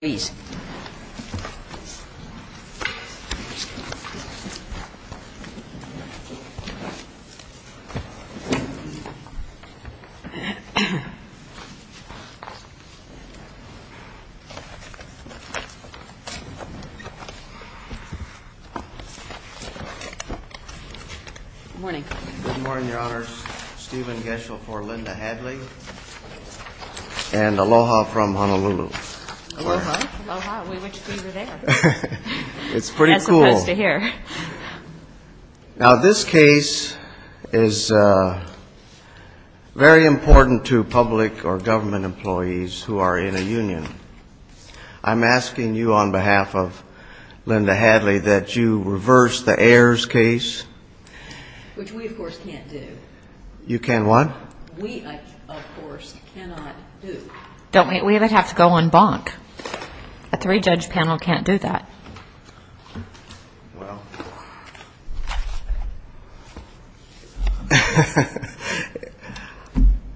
Good morning Your Honors, Stephen Geschel for Linda Hadley and Aloha from Honolulu. Now this case is very important to public or government employees who are in a union. I'm asking you on behalf of Linda Hadley that you reverse the Ayers case. Which we of course can't do. You can what? We of course cannot do. We would have to go on bonk. A three-judge panel can't do that.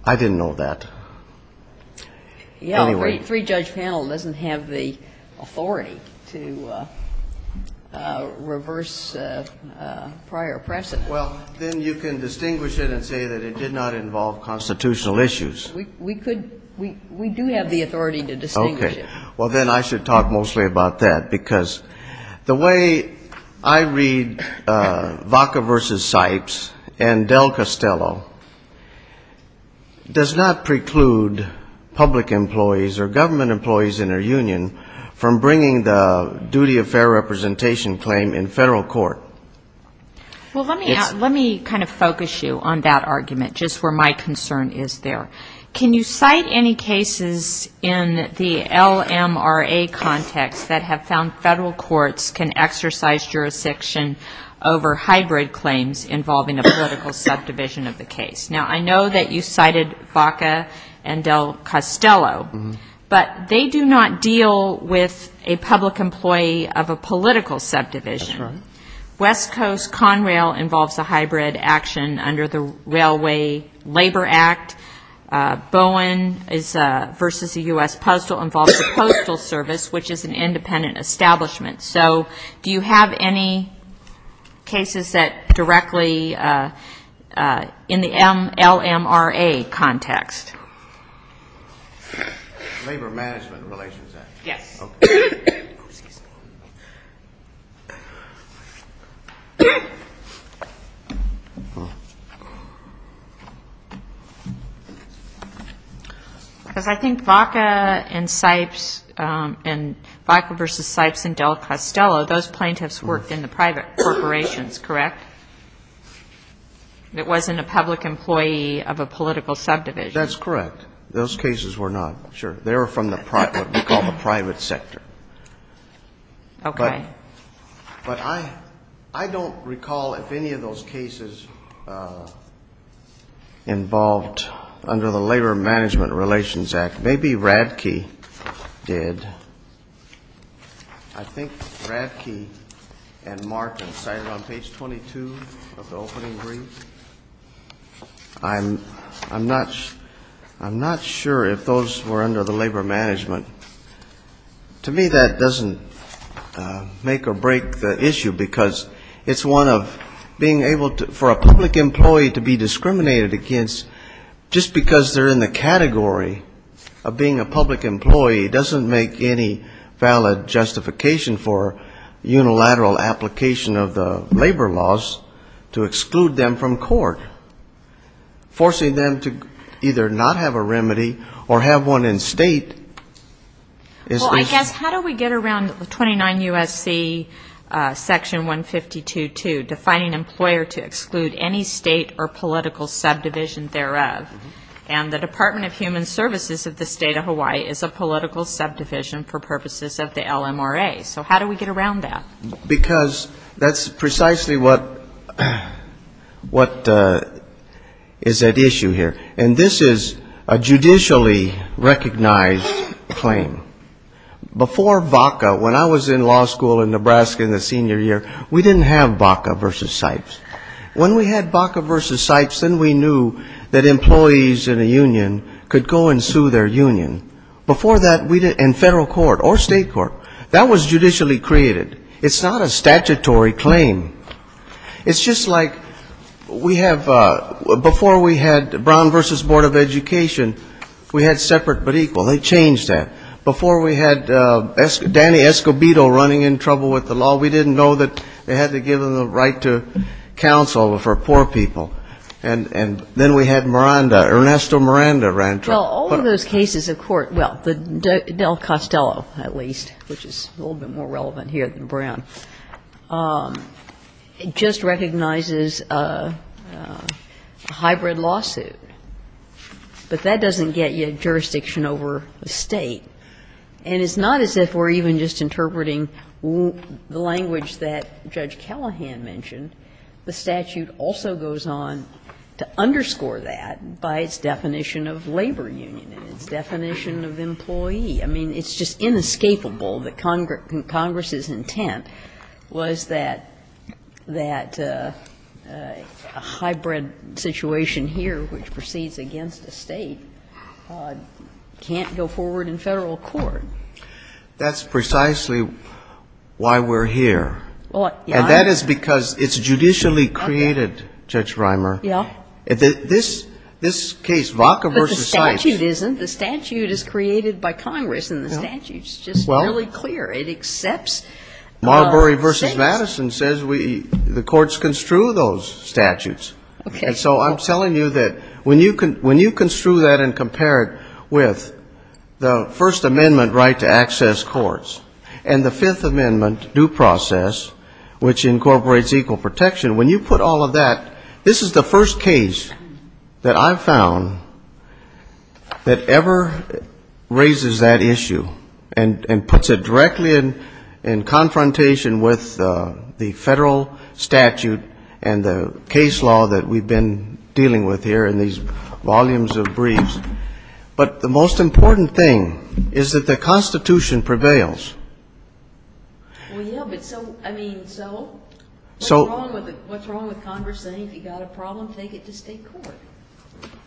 I didn't know that. A three-judge panel doesn't have the authority to reverse prior precedent. Well, then you can distinguish it and say that it did not involve constitutional issues. We could. We do have the authority to distinguish it. Okay. Well, then I should talk mostly about that because the way I read Vaca v. Sipes and Del Costello does not preclude public employees or government employees in a union from bringing the duty of fair representation claim in federal court. Well, let me kind of focus you on that argument just where my concern is there. Can you cite any cases in the LMRA context that have found federal courts can exercise jurisdiction over hybrid claims involving a political subdivision of the case? Now I know that you cited Vaca and Del Costello. But they do not deal with a public employee of a political subdivision. West Coast Conrail involves a hybrid action under the Railway Labor Act. Bowen v. U.S. Postal involves a postal service, which is an independent establishment. So do you have any cases that directly in the LMRA context? Labor Management Relations Act. Yes. Oh, excuse me. Because I think Vaca and Sipes and Vaca v. Sipes and Del Costello, those plaintiffs worked in the private corporations, correct? It wasn't a public employee of a political subdivision. That's correct. Those cases were not. Sure. They were from what we call the private sector. Okay. But I don't recall if any of those cases involved under the Labor Management Relations Act. Maybe Radke did. I think Radke and Martin cited on page 22 of the opening brief. I'm not sure if those were under the labor management. To me, that doesn't make or break the issue because it's one of being able for a public employee to be discriminated against just because they're in the category of being a public employee doesn't make any valid justification for unilateral application of the labor laws to exclude them from court, forcing them to either not have a remedy or have one in state. Well, I guess how do we get around 29 U.S.C. Section 152.2, defining employer to exclude any state or political subdivision thereof? And the Department of Human Services of the State of Hawaii is a political subdivision for purposes of the LMRA. So how do we get around that? Because that's precisely what is at issue here. And this is a judicially recognized claim. Before VACA, when I was in law school in Nebraska in the senior year, we didn't have VACA versus SIPES. When we had VACA versus SIPES, then we knew that employees in a union could go and sue their union. Before that, we didn't, in federal court or state court, that was judicially created. It's not a statutory claim. It's just like we have, before we had Brown versus Board of Education, we had separate but equal. They changed that. Before we had Danny Escobedo running in trouble with the law, we didn't know that they had to give him the right to counsel for poor people. And then we had Miranda, Ernesto Miranda ran trouble. Well, all of those cases of court, well, Del Costello, at least, which is a little bit more relevant here than Brown, just recognizes a hybrid lawsuit. But that doesn't get you jurisdiction over the State. And it's not as if we're even just interpreting the language that Judge Callahan mentioned. The statute also goes on to underscore that by its definition of labor union and its definition of employee. I mean, it's just inescapable that Congress's intent was that a hybrid situation here, which proceeds against a State, can't go forward in Federal court. That's precisely why we're here. And that is because it's judicially created, Judge Reimer. This case, Vaca versus Seitz. But the statute isn't. The statute is created by Congress, and the statute is just really clear. It accepts States. Marbury v. Madison says the courts construe those statutes. Okay. And so I'm telling you that when you construe that and compare it with the First Amendment right to access courts and the Fifth Amendment due process, which incorporates equal protection, when you put all of that, this is the first case that I've found that ever raises that issue and puts it directly in confrontation with the Federal statute and the case law that we've been dealing with here in these volumes of briefs. But the most important thing is that the Constitution prevails. Well, yeah, but so, I mean, so? So. What's wrong with Congress saying if you've got a problem, take it to State court?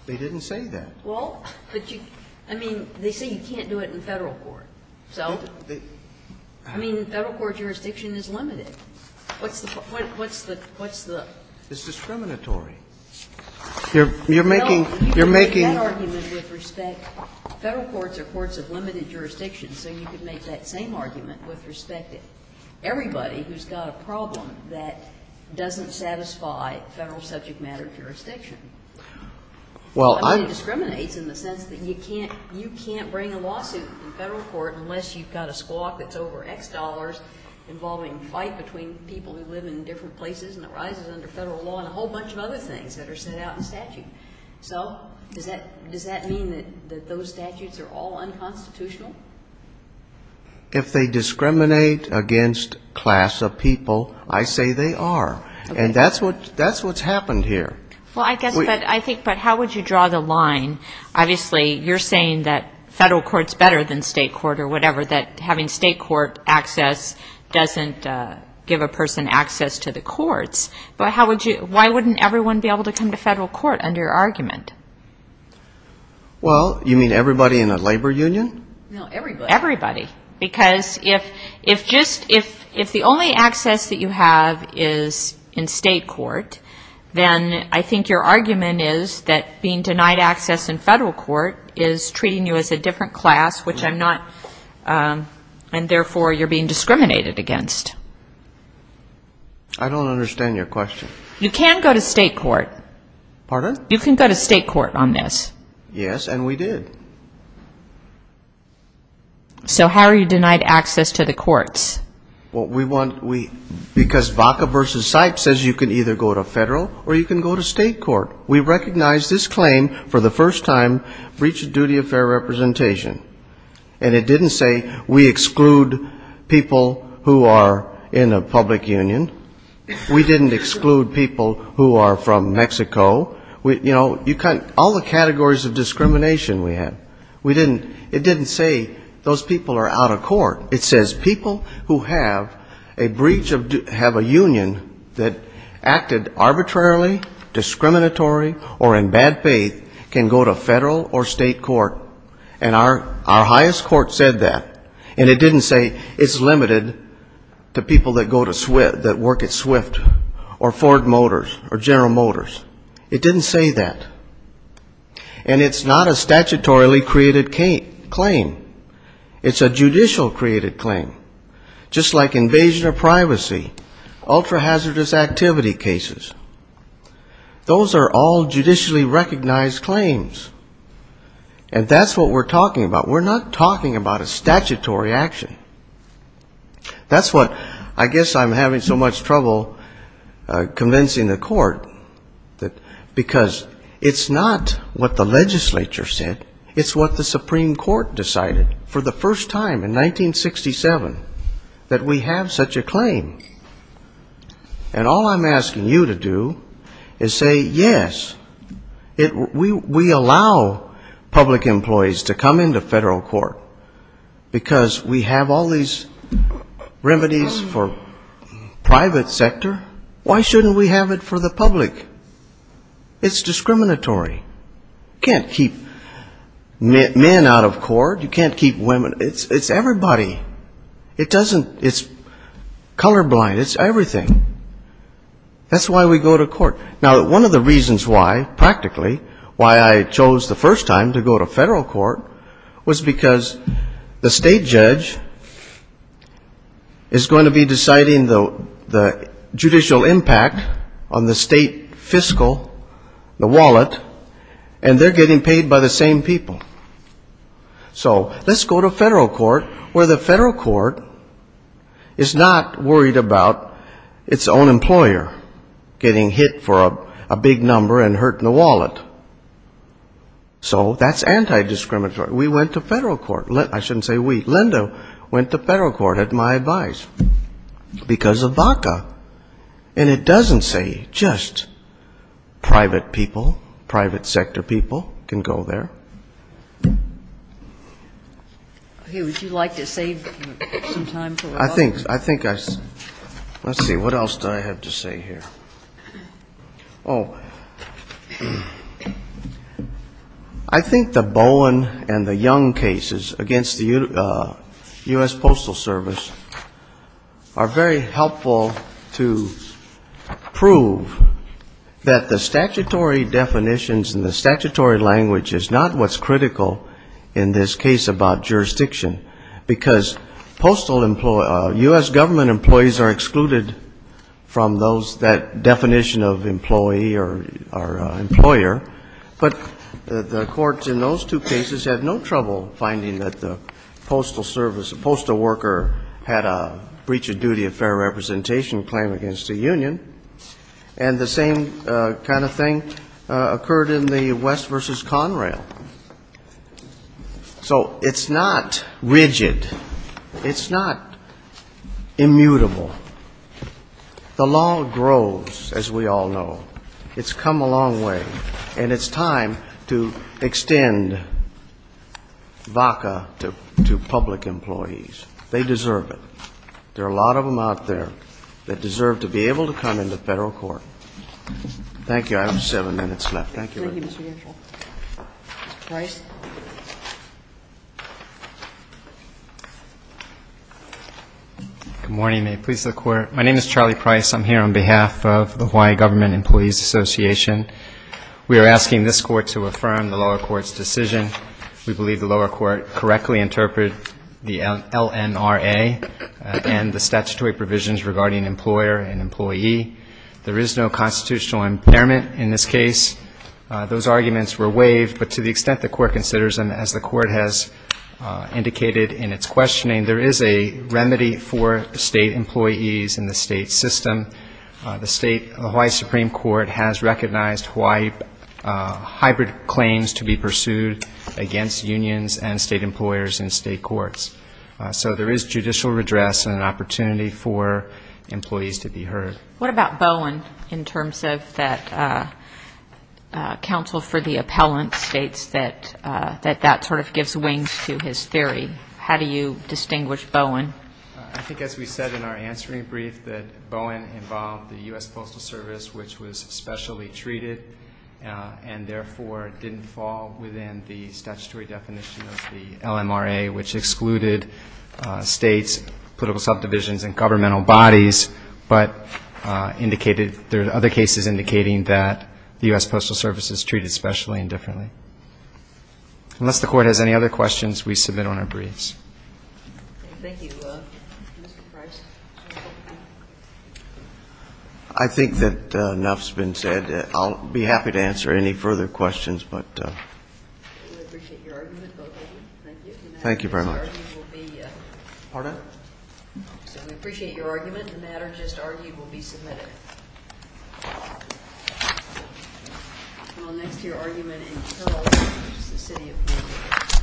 They didn't say that. Well, but you, I mean, they say you can't do it in Federal court. So? I mean, Federal court jurisdiction is limited. What's the, what's the, what's the? It's discriminatory. You're making, you're making. You're making that argument with respect, Federal courts are courts of limited jurisdiction, so you could make that same argument with respect to everybody who's got a problem that doesn't satisfy Federal subject matter jurisdiction. Well, I'm. It discriminates in the sense that you can't, you can't bring a lawsuit in Federal court unless you've got a squawk that's over X dollars involving a fight between people who live in different places and it arises under Federal law and a whole bunch of other things that are set out in statute. So, does that, does that mean that those statutes are all unconstitutional? If they discriminate against class of people, I say they are. And that's what, that's what's happened here. Well, I guess, but I think, but how would you draw the line? Obviously, you're saying that Federal court's better than State court or whatever, or that having State court access doesn't give a person access to the courts. But how would you, why wouldn't everyone be able to come to Federal court under your argument? Well, you mean everybody in a labor union? No, everybody. Everybody. Because if, if just, if, if the only access that you have is in State court, then I think your argument is that being denied access in Federal court is treating you as a different class, which I'm not, and therefore you're being discriminated against. I don't understand your question. You can go to State court. Pardon? You can go to State court on this. Yes, and we did. So how are you denied access to the courts? Well, we want, we, because VACA v. CYPE says you can either go to Federal or you can go to State court. We recognize this claim for the first time, breach of duty of fair representation. And it didn't say we exclude people who are in a public union. We didn't exclude people who are from Mexico. You know, all the categories of discrimination we have. We didn't, it didn't say those people are out of court. It says people who have a breach of, have a union that acted arbitrarily, discriminatory, or in bad faith can go to Federal or State court. And our highest court said that. And it didn't say it's limited to people that go to, that work at Swift or Ford Motors or General Motors. It didn't say that. And it's not a statutorily created claim. It's a judicial created claim, just like invasion of privacy, ultra hazardous activity cases. Those are all judicially recognized claims. And that's what we're talking about. We're not talking about a statutory action. That's what, I guess I'm having so much trouble convincing the court that, because it's not what the legislature said. It's what the Supreme Court decided for the first time in 1967, that we have such a claim. And all I'm asking you to do is say, yes, we allow public employees to come into Federal court, because we have all these remedies for private sector. Why shouldn't we have it for the public? It's discriminatory. You can't keep men out of court. You can't keep women. It's everybody. It doesn't, it's colorblind. It's everything. That's why we go to court. Now, one of the reasons why, practically, why I chose the first time to go to Federal court was because the State judge is going to be deciding the judicial impact on the State court. The State judge is going to be deciding the fiscal, the wallet, and they're getting paid by the same people. So let's go to Federal court, where the Federal court is not worried about its own employer getting hit for a big number and hurting the wallet. So that's anti-discriminatory. We went to Federal court. I shouldn't say we. Linda went to Federal court at my advice, because of BACA. And it doesn't say just private people, private sector people can go there. I think, I think I, let's see, what else did I have to say here? Oh, I think the Bowen and the Young cases against the U.S. Postal Service are very helpful to prove that the statutory definitions and the statutory language is not what's critical in this case about jurisdiction, because postal, U.S. government employees are excluded from those that have that definition of employee or employer. But the courts in those two cases had no trouble finding that the postal service, the postal worker had a breach of duty of fair representation claim against the union. And the same kind of thing occurred in the West v. Conrail. So it's not rigid. It's not immutable. The law grows, as we all know. It's come a long way. And it's time to extend BACA to public employees. They deserve it. There are a lot of them out there that deserve to be able to come into federal court. Thank you. I have seven minutes left. Thank you. Good morning. My name is Charlie Price. I'm here on behalf of the Hawaii Government Employees Association. We are asking this court to affirm the lower court's decision. We believe the lower court correctly interpreted the LNRA and the statutory provisions regarding employer and employee. There is no constitutional impairment in this case. Those arguments were waived, but to the extent the court considers them, as the court has indicated in its questioning, there is a remedy for state employees in the state system. The Hawaii Supreme Court has recognized Hawaii hybrid claims to be pursued against unions and state employers in state courts. So there is judicial redress and an opportunity for employees to be heard. What about Bowen in terms of that counsel for the appellant states that that sort of gives wings to his theory? How do you distinguish Bowen? I think as we said in our answering brief, that Bowen involved the U.S. Postal Service, which was specially treated, and therefore didn't fall within the statutory definition of the LNRA, which excluded states, political subdivisions, and governmental bodies. But there are other cases indicating that the U.S. Postal Service is treated specially and differently. Unless the court has any other questions, we submit on our briefs. I think that enough has been said. I'll be happy to answer any further questions. Any that are just argued will be submitted. And I'll next hear argument in Carroll, which is the city of Vancouver.